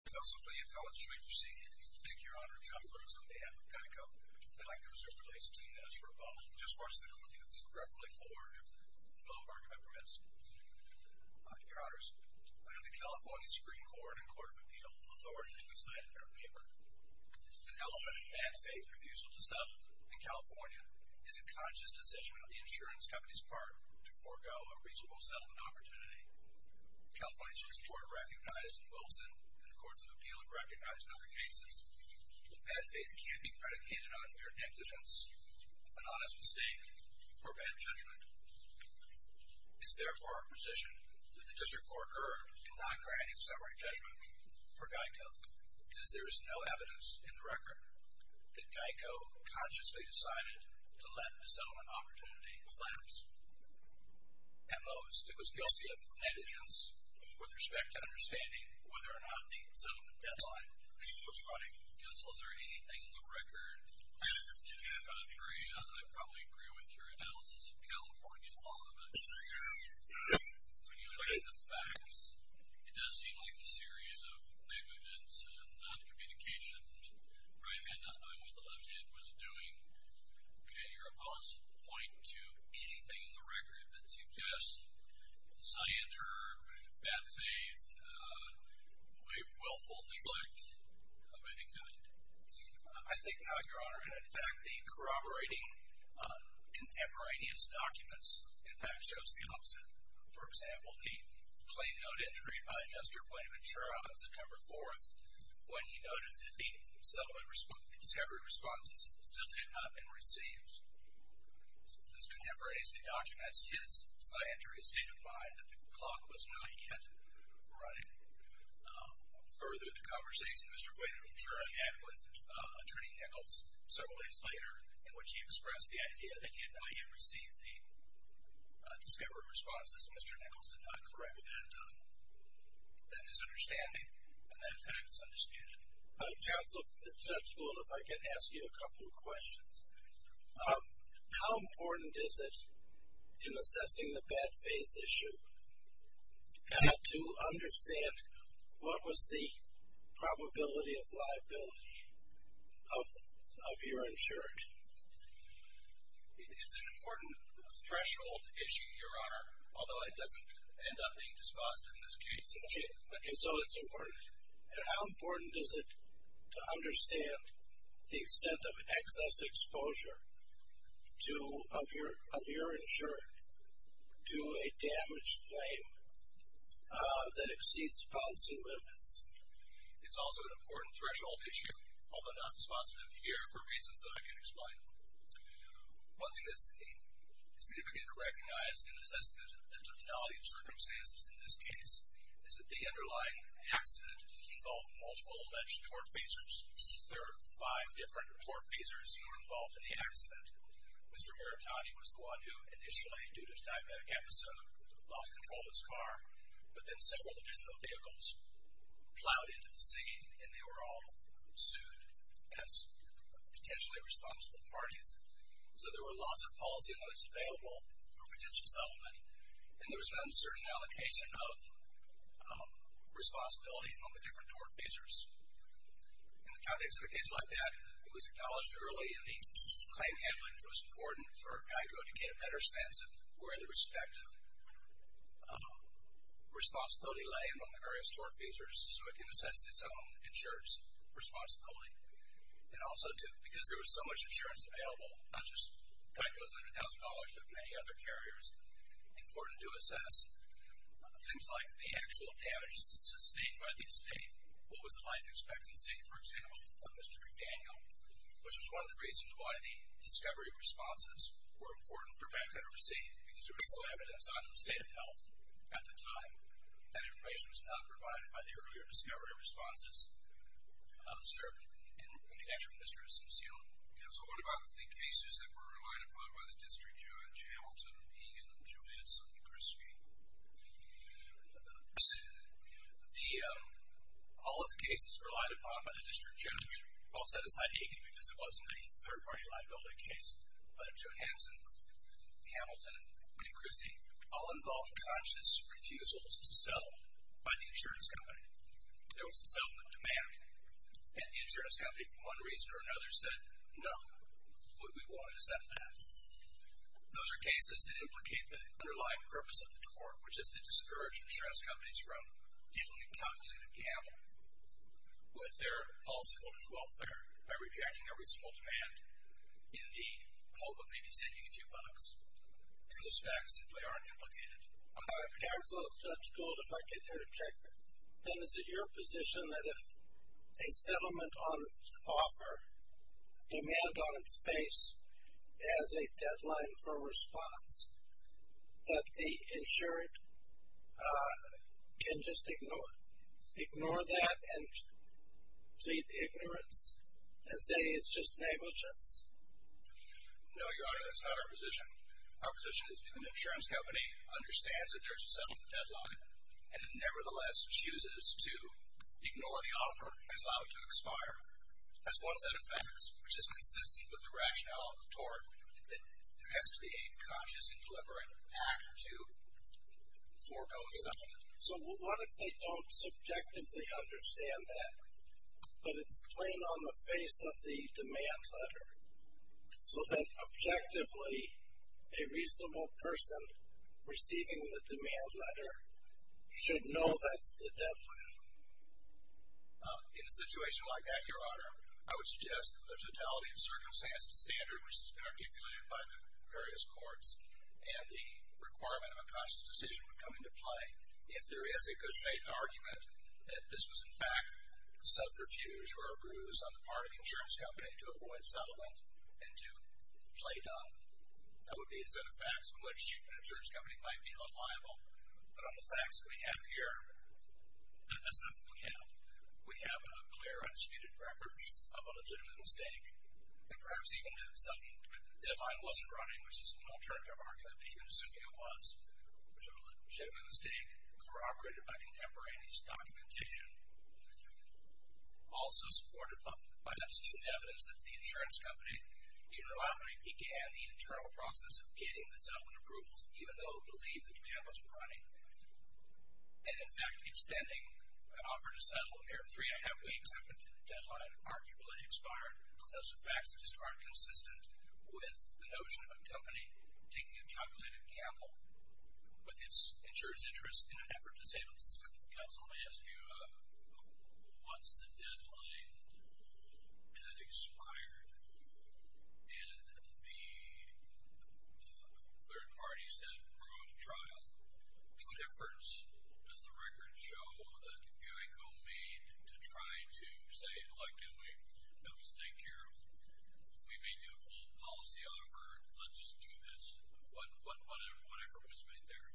Those of the intelligence agency, I'd like to speak your honor on behalf of GEICO. I'd like to reserve the right to two minutes for a moment. Just watch the clip. It's directly for the fellow of our governments. Your honors, under the California Supreme Court and Court of Appeal, the court has decided in their paper an element of bad faith refusal to settle in California is a conscious decision on the insurance company's part to forego a reasonable settlement opportunity. The California Supreme Court recognized in Wilson and the Courts of Appeal have recognized in other cases that bad faith can't be predicated on mere negligence, an honest mistake, or bad judgment. It's therefore our position that the district court urge to not grant a summary judgment for GEICO because there is no evidence in the record that GEICO consciously decided to let a settlement opportunity lapse. At most, it was guilty of negligence with respect to understanding whether or not the settlement deadline was running. Counsel, is there anything in the record? Senator, I probably agree with your analysis of California law, but when you look at the facts, it does seem like a series of negligence and noncommunications. Ryan, I don't know what the left hand was doing. Can your opponent point to anything in the record that suggests scienter, bad faith, willful neglect of any kind? I think not, your honor. In fact, the corroborating contemporaneous documents, in fact, shows the opposite. For example, the plain note entry by Jester Blayman Schirra on September 4th when he noted that the discovery responses still had not been received. This contemporaneous document, his scienter has stated why the clock was not yet running. Further, the conversation Mr. Blayman Schirra had with Attorney Nichols several days later in which he expressed the idea that he had not yet received the discovery responses. Mr. Nichols did not correct that misunderstanding, and that fact is understandable. Counsel, if I can ask you a couple of questions. How important is it in assessing the bad faith issue to understand what was the probability of liability of your insurance? It is an important threshold issue, your honor, although it doesn't end up being dispositive in this case. Okay, so it's important. And how important is it to understand the extent of excess exposure of your insurance to a damaged claim that exceeds policy limits? It's also an important threshold issue, although not dispositive here for reasons that I can't explain. One thing that's significant to recognize in assessing the totality of circumstances in this case is that the underlying accident involved multiple alleged tort facers. There are five different tort facers who were involved in the accident. Mr. Meritotti was the one who initially, due to his diabetic episode, lost control of his car, but then several additional vehicles plowed into the scene, and they were all sued as potentially responsible parties. So there were lots of policy limits available for potential settlement, and there was an uncertain allocation of responsibility among the different tort facers. In the context of a case like that, it was acknowledged early in the claim handling that it was important for GEICO to get a better sense of where the respective responsibility lay among the various tort facers so it can assess its own insurance responsibility. And also, too, because there was so much insurance available, not just GEICO's $100,000 but many other carriers, it was important to assess things like the actual damages sustained by the estate, what was the life expectancy, for example, of Mr. McDaniel, which was one of the reasons why the discovery responses were important for bank literacy because there was no evidence on the state of health at the time. That information was not provided by the earlier discovery responses of the SIRP and the financial ministries in New Zealand. Okay, so what about the cases that were relied upon by the district judge, Hamilton, Hagen, Julianson, and Krischke? All of the cases relied upon by the district judge, well, set aside Hagen because it wasn't a third-party liability case, but Julianson, Hamilton, and Krischke, all involved conscious refusals to settle by the insurance company. There was a settlement demand, and the insurance company, for one reason or another, said, no, we want to settle that. Those are cases that implicate the underlying purpose of the tort, which is to discourage insurance companies from dealing in calculated gamble with their policyholders' welfare by rejecting a reasonable demand in the hope of maybe saving a few bucks. Those facts simply aren't implicated. Council Judge Gould, if I can interject, then is it your position that if a settlement on offer, demand on its face has a deadline for response, that the insured can just ignore that and plead ignorance and say it's just negligence? No, Your Honor, that's not our position. Our position is if an insurance company understands that there's a settlement deadline and it nevertheless chooses to ignore the offer and allow it to expire, that's one set of facts which is consistent with the rationale of the tort that there has to be a conscious and deliberate act to forego a settlement. So what if they don't subjectively understand that, but it's plain on the face of the demand letter, so that objectively a reasonable person receiving the demand letter should know that's the deadline? In a situation like that, Your Honor, I would suggest that the totality of circumstances standard, which has been articulated by the various courts, and the requirement of a conscious decision would come into play if there is a good faith argument that this was in fact subterfuge or a bruise on the part of the insurance company to avoid settlement and to play dumb. That would be a set of facts on which an insurance company might feel unliable. But on the facts that we have here, we have a clear, undisputed record of a legitimate mistake, and perhaps even if the deadline wasn't running, which is an alternative argument, but even assuming it was, a legitimate mistake corroborated by contemporaneous documentation. Also supported by undisputed evidence that the insurance company interlockingly began the internal process of getting the settlement approvals, even though it believed the demand wasn't running. And in fact, extending an offer to settle a mere three and a half weeks after the deadline arguably expired. Those are facts that just aren't consistent with the notion of a company taking a calculated gamble with its insurer's interest in an effort to save Once the deadline had expired and the third party said, we're going to trial, what difference does the record show that UECO made to try to say, look, can we make a mistake here? We made you a full policy offer. Let's just do this. What effort was made there?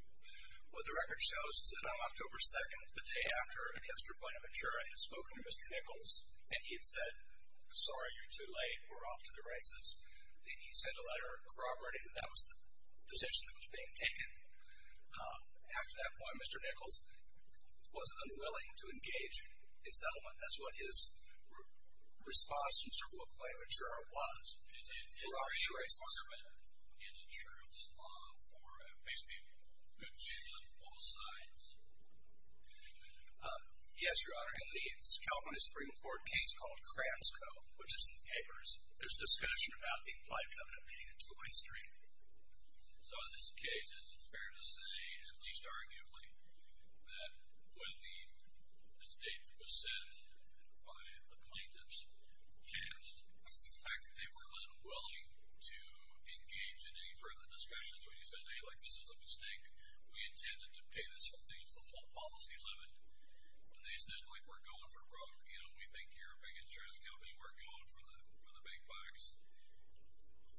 Well, the record shows that on October 2nd, the day after Mr. Buenaventura had spoken to Mr. Nichols, and he had said, sorry, you're too late. We're off to the races. He sent a letter corroborating that that was the decision that was being taken. After that point, Mr. Nichols was unwilling to engage in settlement. That's what his response to Mr. Buenaventura was. Is there a requirement in insurance law for basically good people on both sides? Yes, Your Honor. In the California Supreme Court case called Krams Co, which is in the papers, there's discussion about the implied covenant being a two-way street. So in this case, is it fair to say, at least arguably, that when the statement was sent by the plaintiffs, the fact that they were unwilling to engage in any further discussions when you said, hey, this is a mistake, we intended to pay this whole thing, it's the whole policy limit, and they said, we think you're a big insurance company, we're going for the big bucks.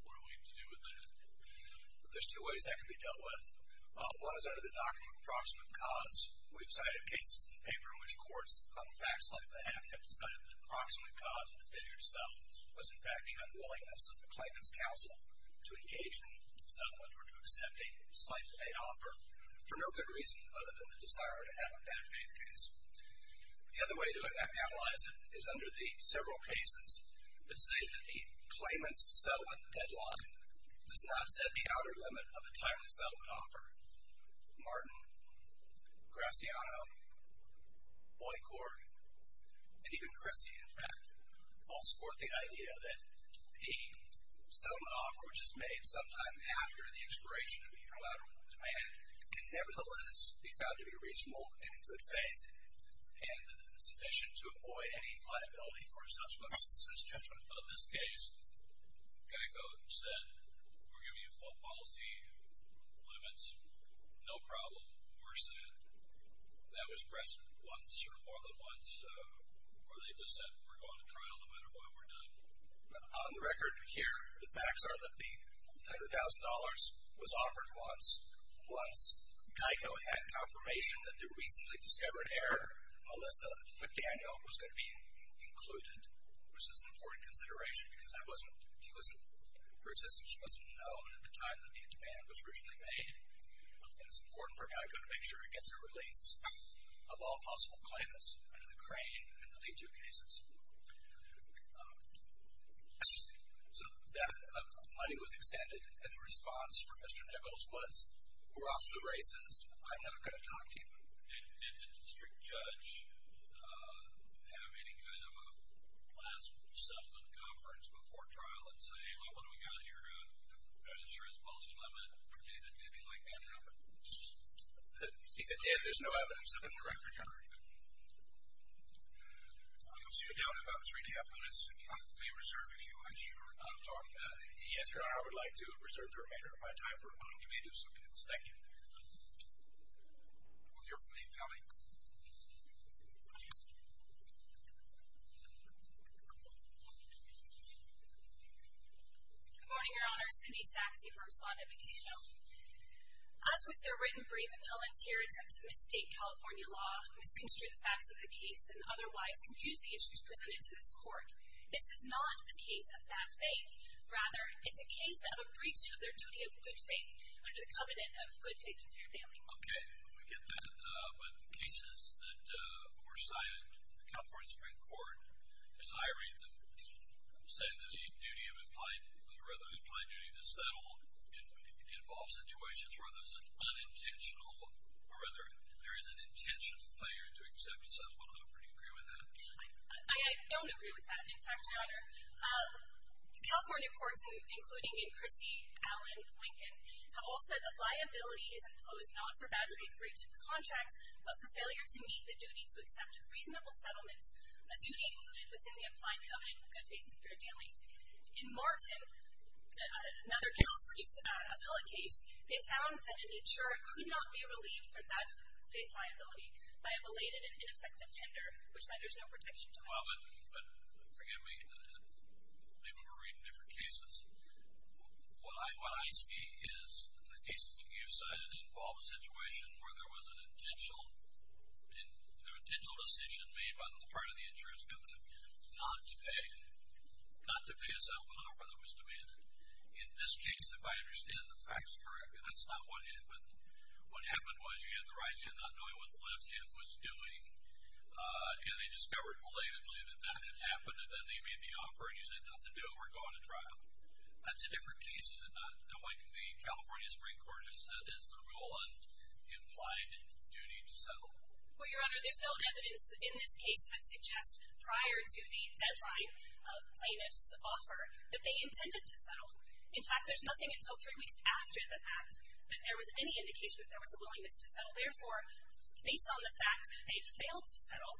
What do we need to do with that? There's two ways that can be dealt with. One is under the doctrine of approximate cause. We've cited cases in the paper in which courts on facts like that have decided that the approximate cause of failure to settle was, in fact, the unwillingness of the claimant's counsel to engage in settlement or to accept a slightly late offer for no good reason other than the desire to have a bad faith case. The other way to analyze it is under the several cases that say that the claimant's settlement deadline does not set the outer limit of the time the settlement offered. Martin, Graziano, Boycourt, and even Cressy, in fact, all support the idea that a settlement offer which is made sometime after the expiration of the interlateral demand can nevertheless be found to be reasonable and in good faith and sufficient to avoid any liability for subsequent subsistence judgment. In this case, Geico said, we're giving you policy limits. No problem. We're set. That was pressed once or more than once, or they just said we're going to trial no matter what we're doing. On the record here, the facts are that the $100,000 was offered once. Once, Geico had confirmation that the recently discovered error, Melissa McDaniel, was going to be included, which is an important consideration because that wasn't, she wasn't, her existence wasn't known at the time that the demand was originally made. And it's important for Geico to make sure it gets a release of all possible claimants under the crane in the lead due cases. So that money was extended, and the response from Mr. Nichols was, we're off to the races. I'm not going to talk to you. Did the district judge have any kind of a last settlement conference before trial and say, well, what do we got here? Are you sure it's a policy limit? Anything like that ever? Dan, there's no evidence of it on the record here. I don't see a doubt about it. It's really up on his name reserve. I'm sure I'm talking to him. Yes or no, I would like to reserve the remainder of my time for one of you may do something else. Thank you. We'll hear from Amy Kelly. Good morning, Your Honor. Cindy Saxe, first line at Geico. As with their written brief, a volunteer attempt to mistake California law, misconstrue the facts of the case, and otherwise confuse the issues presented to this court, this is not a case of bad faith. Rather, it's a case of a breach of their duty of good faith under the covenant of good faith and fair dealing. Okay. We get that. But the cases that were cited in the California Supreme Court, as I read them, say that a duty of implied or rather an implied duty to settle involves situations where there's an unintentional or rather there is an intentional failure to accept a settlement offer. Do you agree with that? I don't agree with that. In fact, Your Honor, California courts, including in Chrissy, Allen, Lincoln, have all said that liability is imposed not for bad faith breach of the contract, but for failure to meet the duty to accept reasonable settlements, a duty included within the implied covenant of good faith and fair dealing. In Martin, another California case, they found that an insurer could not be relieved from bad faith liability by a belated and ineffective tender, which meant there's no protection to that. Well, but forgive me. People can read in different cases. What I see is the cases that you've cited involve a situation where there was an intentional decision made by the part of the insurance covenant not to pay a settlement offer that was demanded. In this case, if I understand the facts correctly, that's not what happened. What happened was you had the right hand not knowing what the left hand was doing, and they discovered belatedly that that had happened, and then they made the offer, and you said nothing to it. We're going to trial. That's a different case, isn't it, knowing the California Supreme Court has said this is a rule in implied duty to settle? Well, Your Honor, there's no evidence in this case that suggests prior to the deadline of plaintiff's offer that they intended to settle. In fact, there's nothing until three weeks after the fact that there was any indication that there was a willingness to settle. Therefore, based on the fact that they failed to settle,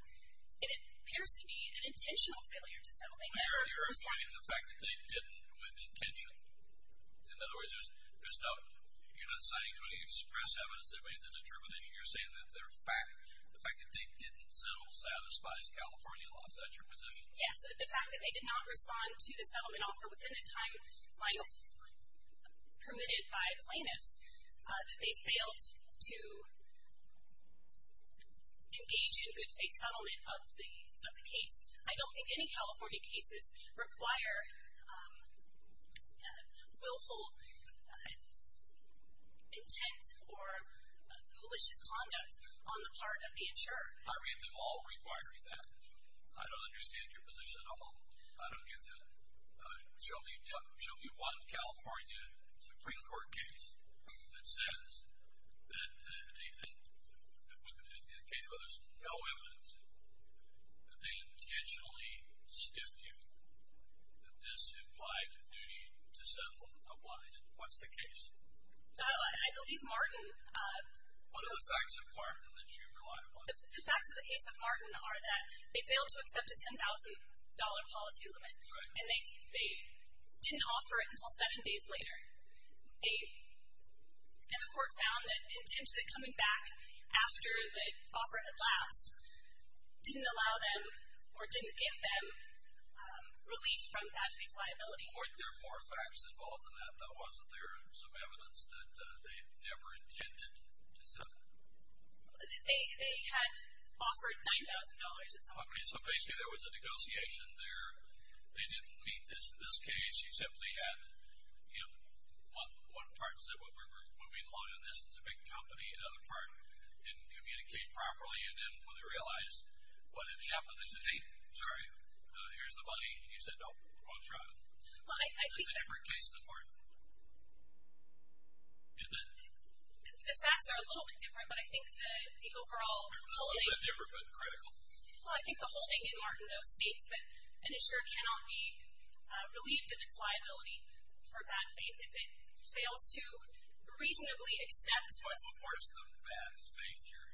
it appears to be an intentional failure to settle. You're explaining the fact that they didn't with intention. In other words, you're not citing 20 express evidence that made the determination. You're saying that the fact that they didn't settle satisfies California law. Is that your position? Yes. The fact that they did not respond to the settlement offer within a timeline permitted by plaintiffs, that they failed to engage in a settlement of the case. I don't think any California cases require willful intent or malicious conduct on the part of the insurer. I read them all requiring that. I don't understand your position at all. I don't get that. There should be one California Supreme Court case that says that if we can just get a case where there's no evidence that they intentionally stiffed you that this implied a duty to settle a blind. What's the case? I believe Martin. What are the facts of Martin that you rely upon? The facts of the case of Martin are that they failed to accept a $10,000 policy limit. And they didn't offer it until seven days later. And the court found that intentionally coming back after the offer had lapsed didn't allow them or didn't give them relief from that fee liability. Weren't there more facts involved in that? That wasn't there some evidence that they never intended to settle? They had offered $9,000 at some point. Okay, so basically there was a negotiation there. They didn't meet this case. You simply had, you know, one part said, well, we're moving along on this. It's a big company. Another part didn't communicate properly and didn't really realize what had happened. They said, hey, sorry, here's the money. And you said, no, we're going to try it. Well, I think that the facts are a little bit different, but I think the overall policy. Different but critical. Well, I think the whole thing in Martindale states that an insurer cannot be relieved of its liability for bad faith if it fails to reasonably accept what's the worst. Where's the bad faith here?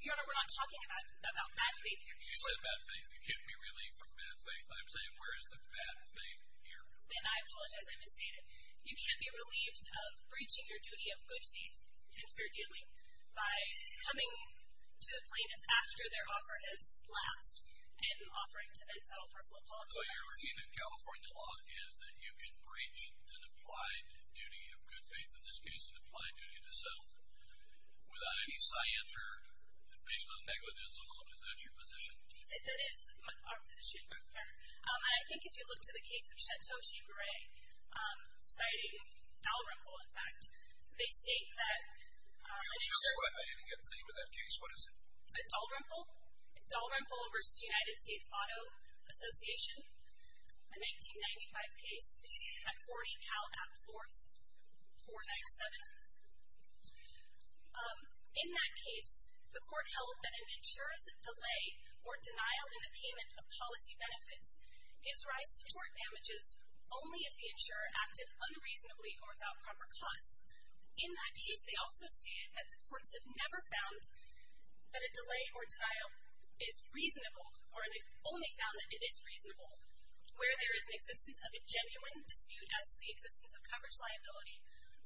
Your Honor, we're not talking about bad faith here. You said bad faith. You can't be relieved from bad faith. I'm saying where's the bad faith here? And I apologize, I misstated. You can't be relieved of breaching your duty of good faith, if you're doing, by coming to the plaintiff's after their offer has lapsed in offering to then settle for a full apology. So what you're reading in California law is that you can breach an applied duty of good faith, in this case an applied duty to settle without any cianter based on negligence alone. Is that your position? That is our position, Your Honor. And I think if you look to the case of Shantoshi Gray, citing Al Rumpel, in fact, they state that an insurer- I didn't get the name of that case. What is it? Dal Rumpel. Dal Rumpel v. United States Auto Association. A 1995 case at 40 Cal Abs 4, 497. In that case, the court held that an insurer's delay or denial in the payment of policy benefits gives rise to short damages only if the insurer acted unreasonably or without proper cause. In that case, they also stated that the courts have never found that a delay or denial is reasonable, or they've only found that it is reasonable where there is an existence of a genuine dispute as to the existence of coverage liability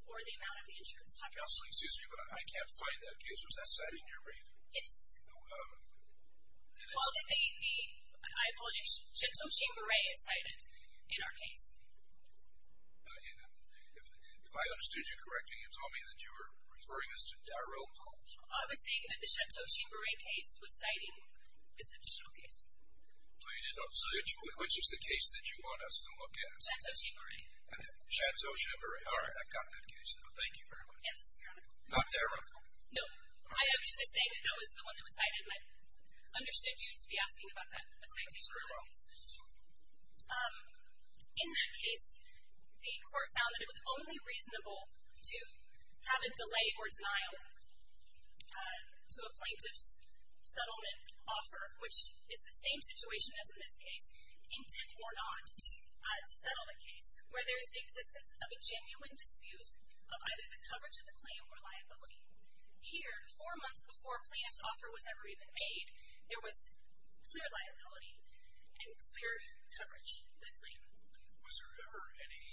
or the amount of the insurance population. Counsel, excuse me, but I can't find that case. Was that cited in your brief? Yes. Well, I apologize. Shantoshi Gray is cited in our case. If I understood you correctly, you told me that you were referring us to Dal Rumpel. I was saying that the Shantoshi Gray case was cited as an additional case. So which is the case that you want us to look at? Shantoshi Gray. Shantoshi Gray. All right. I've got that case now. Thank you very much. Yes, Your Honor. Not Dal Rumpel? No. I was just saying that that was the one that was cited, and I understood you to be asking about that, a citation for Dal Rumpel. In that case, the court found that it was only reasonable to have a delay or denial to a plaintiff's settlement offer, which is the same situation as in this case, intent or not to settle a case where there is the existence of a genuine dispute of either the coverage of the claim or liability. Here, four months before a plaintiff's offer was ever even made, there was clear liability and clear coverage of the claim. Was there ever any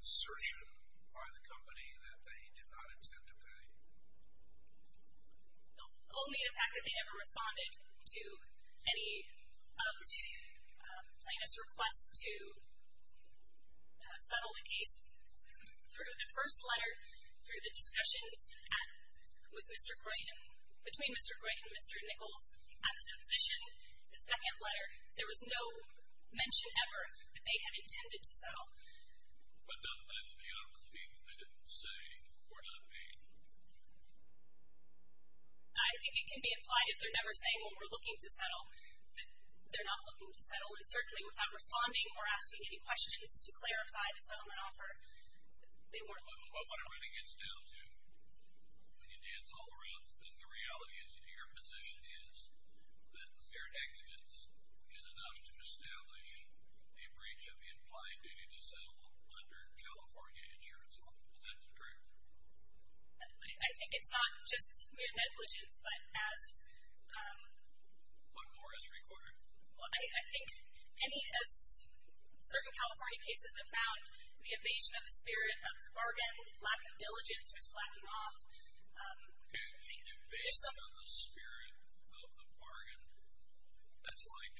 assertion by the company that they did not intend to pay? Only the fact that they never responded to any of the plaintiff's requests to settle the case. Through the first letter, through the discussions with Mr. Gray, between Mr. Gray and Mr. Nichols, at the deposition, the second letter, there was no mention ever that they had intended to settle. But does that mean that they didn't say or not pay? I think it can be implied if they're never saying, well, we're looking to settle, that they're not looking to settle. And certainly without responding or asking any questions to clarify the settlement offer, they weren't looking to settle. But what it really gets down to, when you dance all around the thing, the reality of your position is that mere negligence is enough to establish a breach of the implied duty to settle under California insurance law. Is that correct? I think it's not just mere negligence, but as... But more is required. I think any, as certain California cases have found, the evasion of the spirit of the bargain, lack of diligence, or slacking off. The evasion of the spirit of the bargain? That's like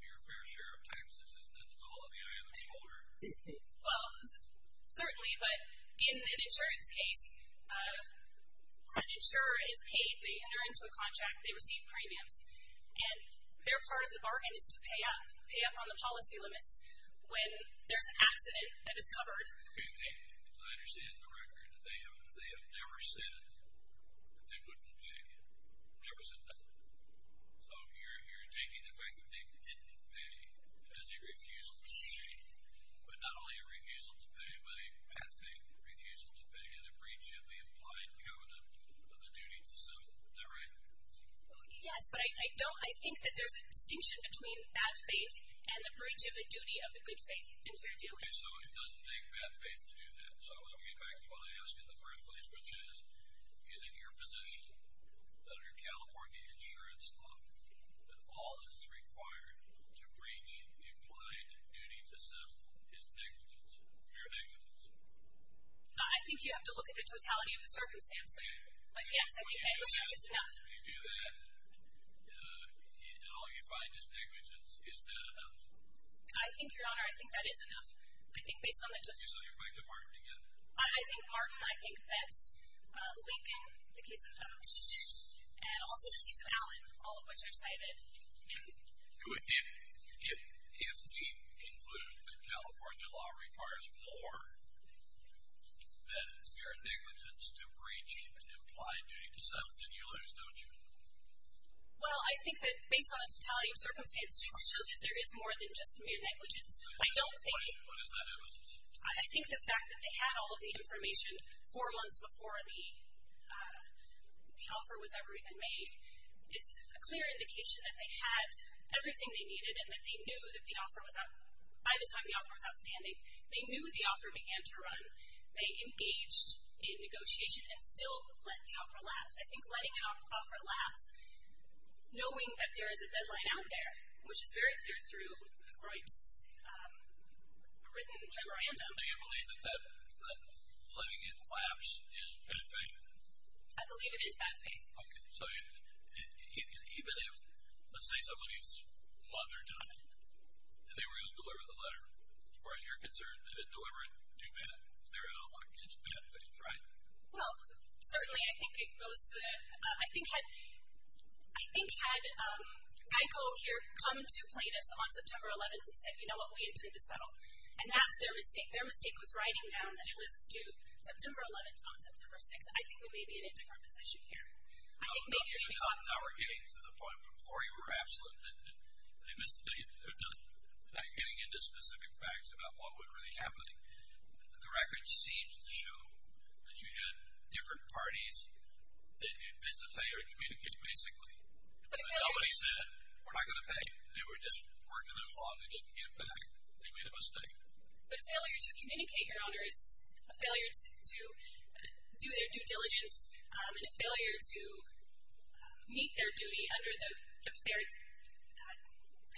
your fair share of taxes, isn't it? It's all in the eye of the beholder. Well, certainly, but in an insurance case, an insurer is paid. They enter into a contract. They receive premiums. And their part of the bargain is to pay up on the policy limits when there's an accident that is covered. I understand the record. They have never said that they wouldn't pay again. Never said that. So you're taking the fact that they didn't pay as a refusal to pay, but not only a refusal to pay, but a bad faith refusal to pay and a breach of the implied covenant of the duty to settle. Is that right? Yes, but I think that there's a distinction between bad faith and the breach of the duty of the good faith. Okay, so it doesn't take bad faith to do that. So I want to get back to what I asked in the first place, which is, is it your position under California insurance law that all that's required to breach implied duty to settle is negligence, mere negligence? I think you have to look at the totality of the circumstance. But, yes, I think negligence is enough. So you do that, and all you find is negligence. Is that enough? I think, Your Honor, I think that is enough. I think based on the totality. So you're back to Martin again? I think Martin. I think that's linking the case of Thomas and also the case of Allen, all of which I've cited. If we conclude that California law requires more than mere negligence to breach an implied duty to settle, then you lose, don't you? Well, I think that based on the totality of circumstance, there is more than just mere negligence. I don't think. What is that evidence? I think the fact that they had all of the information four months before the offer was ever even made is a clear indication that they had everything they needed and that they knew that the offer was outstanding. By the time the offer was outstanding, they knew the offer began to run. They engaged in negotiation and still let the offer lapse. I think letting an offer lapse, knowing that there is a deadline out there, which is very clear through the Grights' written memorandum. Do you believe that letting it lapse is bad faith? I believe it is bad faith. Okay. So even if, let's say somebody's mother died, and they were able to deliver the letter, as far as you're concerned, they didn't deliver it too bad, there is no way it's bad faith, right? Well, certainly I think it goes to that. I think had Geico here come to plaintiffs on September 11th and said, you know what, we intend to settle. And that's their mistake. Their mistake was writing down that it was due September 11th on September 6th. I think we may be in a different position here. Even though we're getting to the point before you were absolute that they missed getting into specific facts about what was really happening, the record seems to show that you had different parties that had been to fail to communicate, basically. Nobody said, we're not going to pay. They were just working as one. They didn't give back. They made a mistake. But failure to communicate, Your Honor, is a failure to do their due diligence, and a failure to meet their duty under the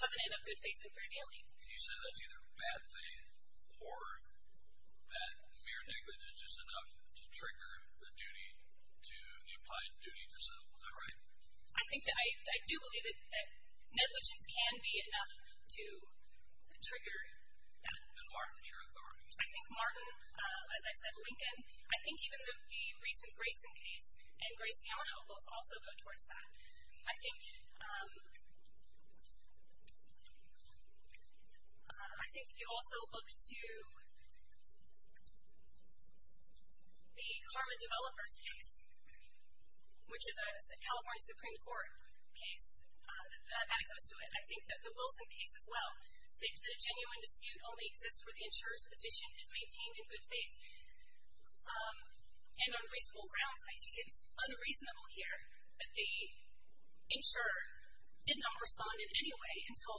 covenant of good faith and fair dealing. You said that's either bad faith or that mere negligence is enough to trigger the duty to the implied duty to settle. Is that right? I think that I do believe that negligence can be enough to trigger that. And Martin, is your authority? I think Martin. As I said, Lincoln. I think even the recent Grayson case and Grace Yamano will also go towards that. I think if you also look to the Karma Developers case, which is a California Supreme Court case that goes to it, I think that the Wilson case as well states that a genuine dispute only exists where the insurer's position is maintained in good faith. And on reasonable grounds, I think it's unreasonable here that the insurer did not respond in any way until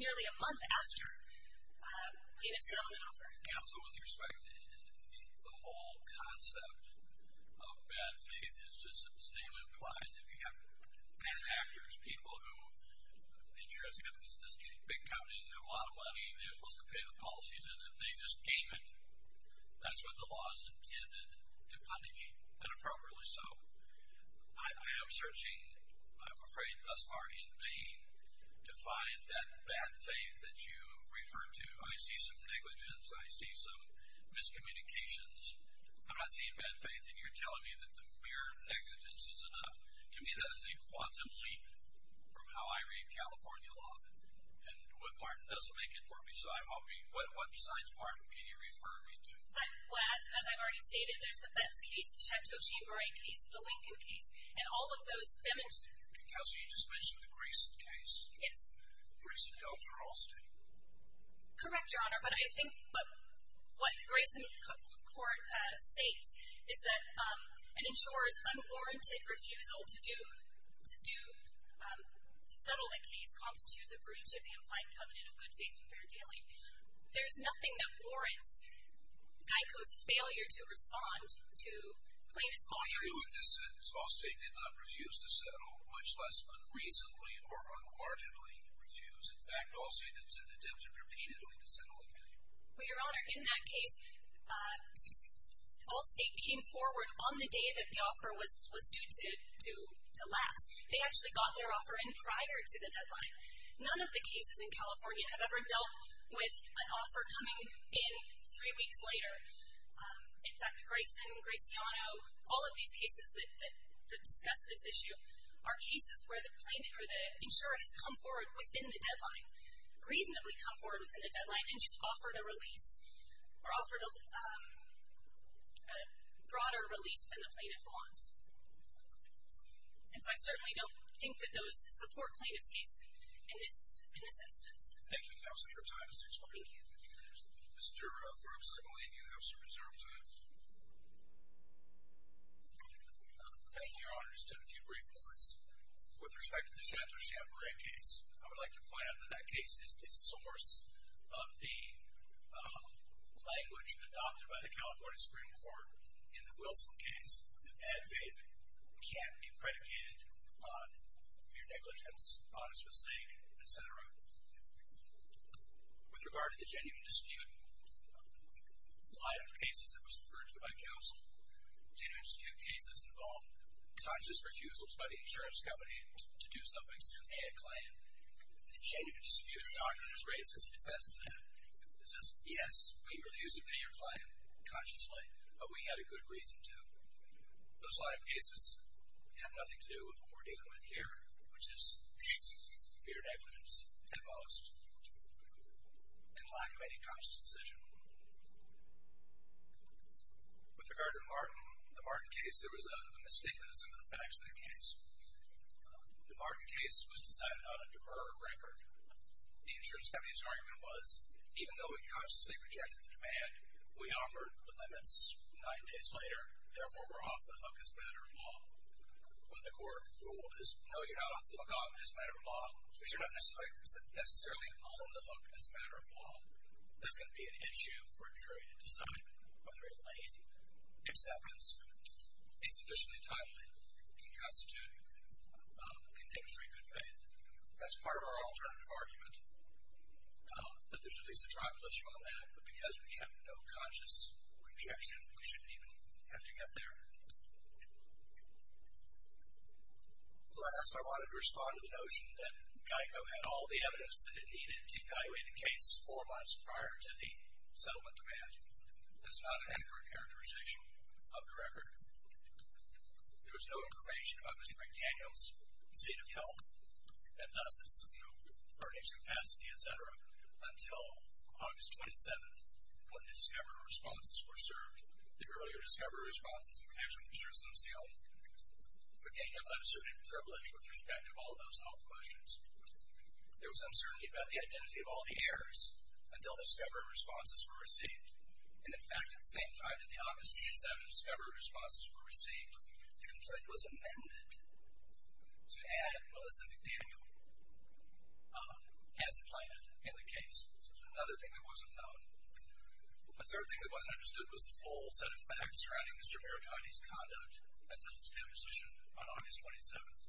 nearly a month after getting a settlement offer. Yeah. So with respect, the whole concept of bad faith is just as the name implies. If you have bad actors, people who the insurance company is just getting big company and they have a lot of money and they're supposed to pay the policies, and if they just game it, that's what the law is intended to punish. And appropriately so. I am searching, I'm afraid thus far in vain, to find that bad faith that you refer to. I see some negligence. I see some miscommunications. I'm not seeing bad faith. And you're telling me that the mere negligence is enough. To me, that is a quantum leap from how I read California law. And what Martin doesn't make it more beside, I mean, what besides Martin can you refer me to? Well, as I've already stated, there's the Betts case, the Chateau-Gibray case, the Lincoln case, and all of those demonstrate. And Kelsey, you just mentioned the Grayson case. Yes. Grayson, no for all states. Correct, Your Honor, but I think what Grayson court states is that an insurer's unwarranted refusal to do, to settle a case constitutes a breach of the implied covenant of good faith and fair dealing. There's nothing that warrants NICO's failure to respond to plaintiffs' motto. I agree with this sentence. All states did not refuse to settle, much less unreasonably or unquarterably refuse. In fact, all states attempted repeatedly to settle a case. Well, Your Honor, in that case, all states came forward on the day that the offer was due to lapse. They actually got their offer in prior to the deadline. None of the cases in California have ever dealt with an offer coming in three weeks later. In fact, Grayson, Graziano, all of these cases that discuss this issue, are cases where the plaintiff or the insurer has come forward within the deadline, reasonably come forward within the deadline and just offered a release, or offered a broader release than the plaintiff wants. And so I certainly don't think that those support plaintiff's case in this instance. Thank you, Counselor. Your time has expired. Thank you. Mr. Brooks, I believe you have some reserved time. Thank you, Your Honor. Just a few brief points. With respect to the Shanto-Chambera case, I would like to point out that that case is the source of the language adopted by the California Supreme Court in the Wilson case that bad faith can't be predicated on mere negligence, honest mistake, et cetera. With regard to the genuine dispute line of cases that was referred to by counsel, genuine dispute cases involve conscious refusals by the insurance company to do something to pay a client. The genuine dispute doctrine is raised as a defense to that. It says, yes, we refused to pay your client consciously, but we had a good reason to. Those line of cases have nothing to do with what we're dealing with here, which is mere negligence at most and lack of any conscious decision. With regard to the Martin case, there was a misstatement of some of the facts in the case. The Martin case was decided on a deferred record. The insurance company's argument was, even though we consciously rejected the demand, we offered the limits nine days later, therefore we're off the hook as a matter of law. What the court ruled is, no, you're not off the hook as a matter of law, because you're not necessarily on the hook as a matter of law. There's going to be an issue for a jury to decide whether it lays acceptance. Insufficiently timely can constitute contemporary good faith. That's part of our alternative argument, that there's at least a tribal issue on that, but because we have no conscious rejection, we shouldn't even have to get there. Last, I wanted to respond to the notion that GEICO had all the evidence that it needed to evaluate the case four months prior to the settlement demand. That's not an accurate characterization of the record. There was no information about Mr. McDaniel's state of health, and thus his earnings capacity, et cetera, until August 27th, when the discoverer responses were served. The earlier discoverer responses included Mr. Simpson's health. McDaniel had a certain privilege with respect to all those health questions. There was uncertainty about the identity of all the heirs until the discoverer responses were received. And, in fact, at the same time that the August 27th discoverer responses were received, the complaint was amended to add Melissa McDaniel as a plaintiff in the case. So that's another thing that wasn't known. The third thing that wasn't understood was the full set of facts surrounding Mr. Maratoni's conduct until his deposition on August 27th.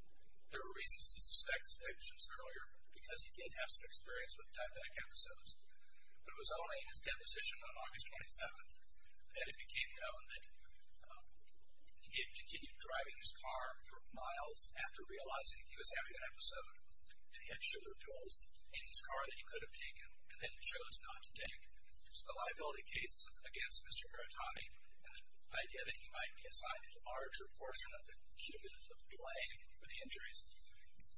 There were reasons to suspect, as I mentioned earlier, because he did have some experience with tie-back episodes, but it was only in his deposition on August 27th that it became known that he had continued driving his car for miles after realizing he was having an episode, and he had sugar pills in his car that he could have taken, and then he chose not to take. So the liability case against Mr. Maratoni and the idea that he might be assigned a larger portion of the cumulative blame for the injuries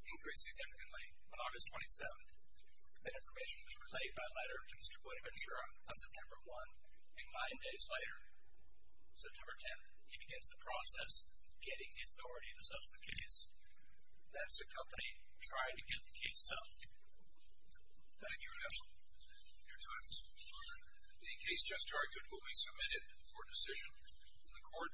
increased significantly on August 27th. That information was relayed by letter to Mr. Bonaventura on September 1, and nine days later, September 10th, he begins the process of getting the authority to settle the case. That's a company trying to get the case settled. Thank you. Your time is up. The case just argued will be submitted for decision.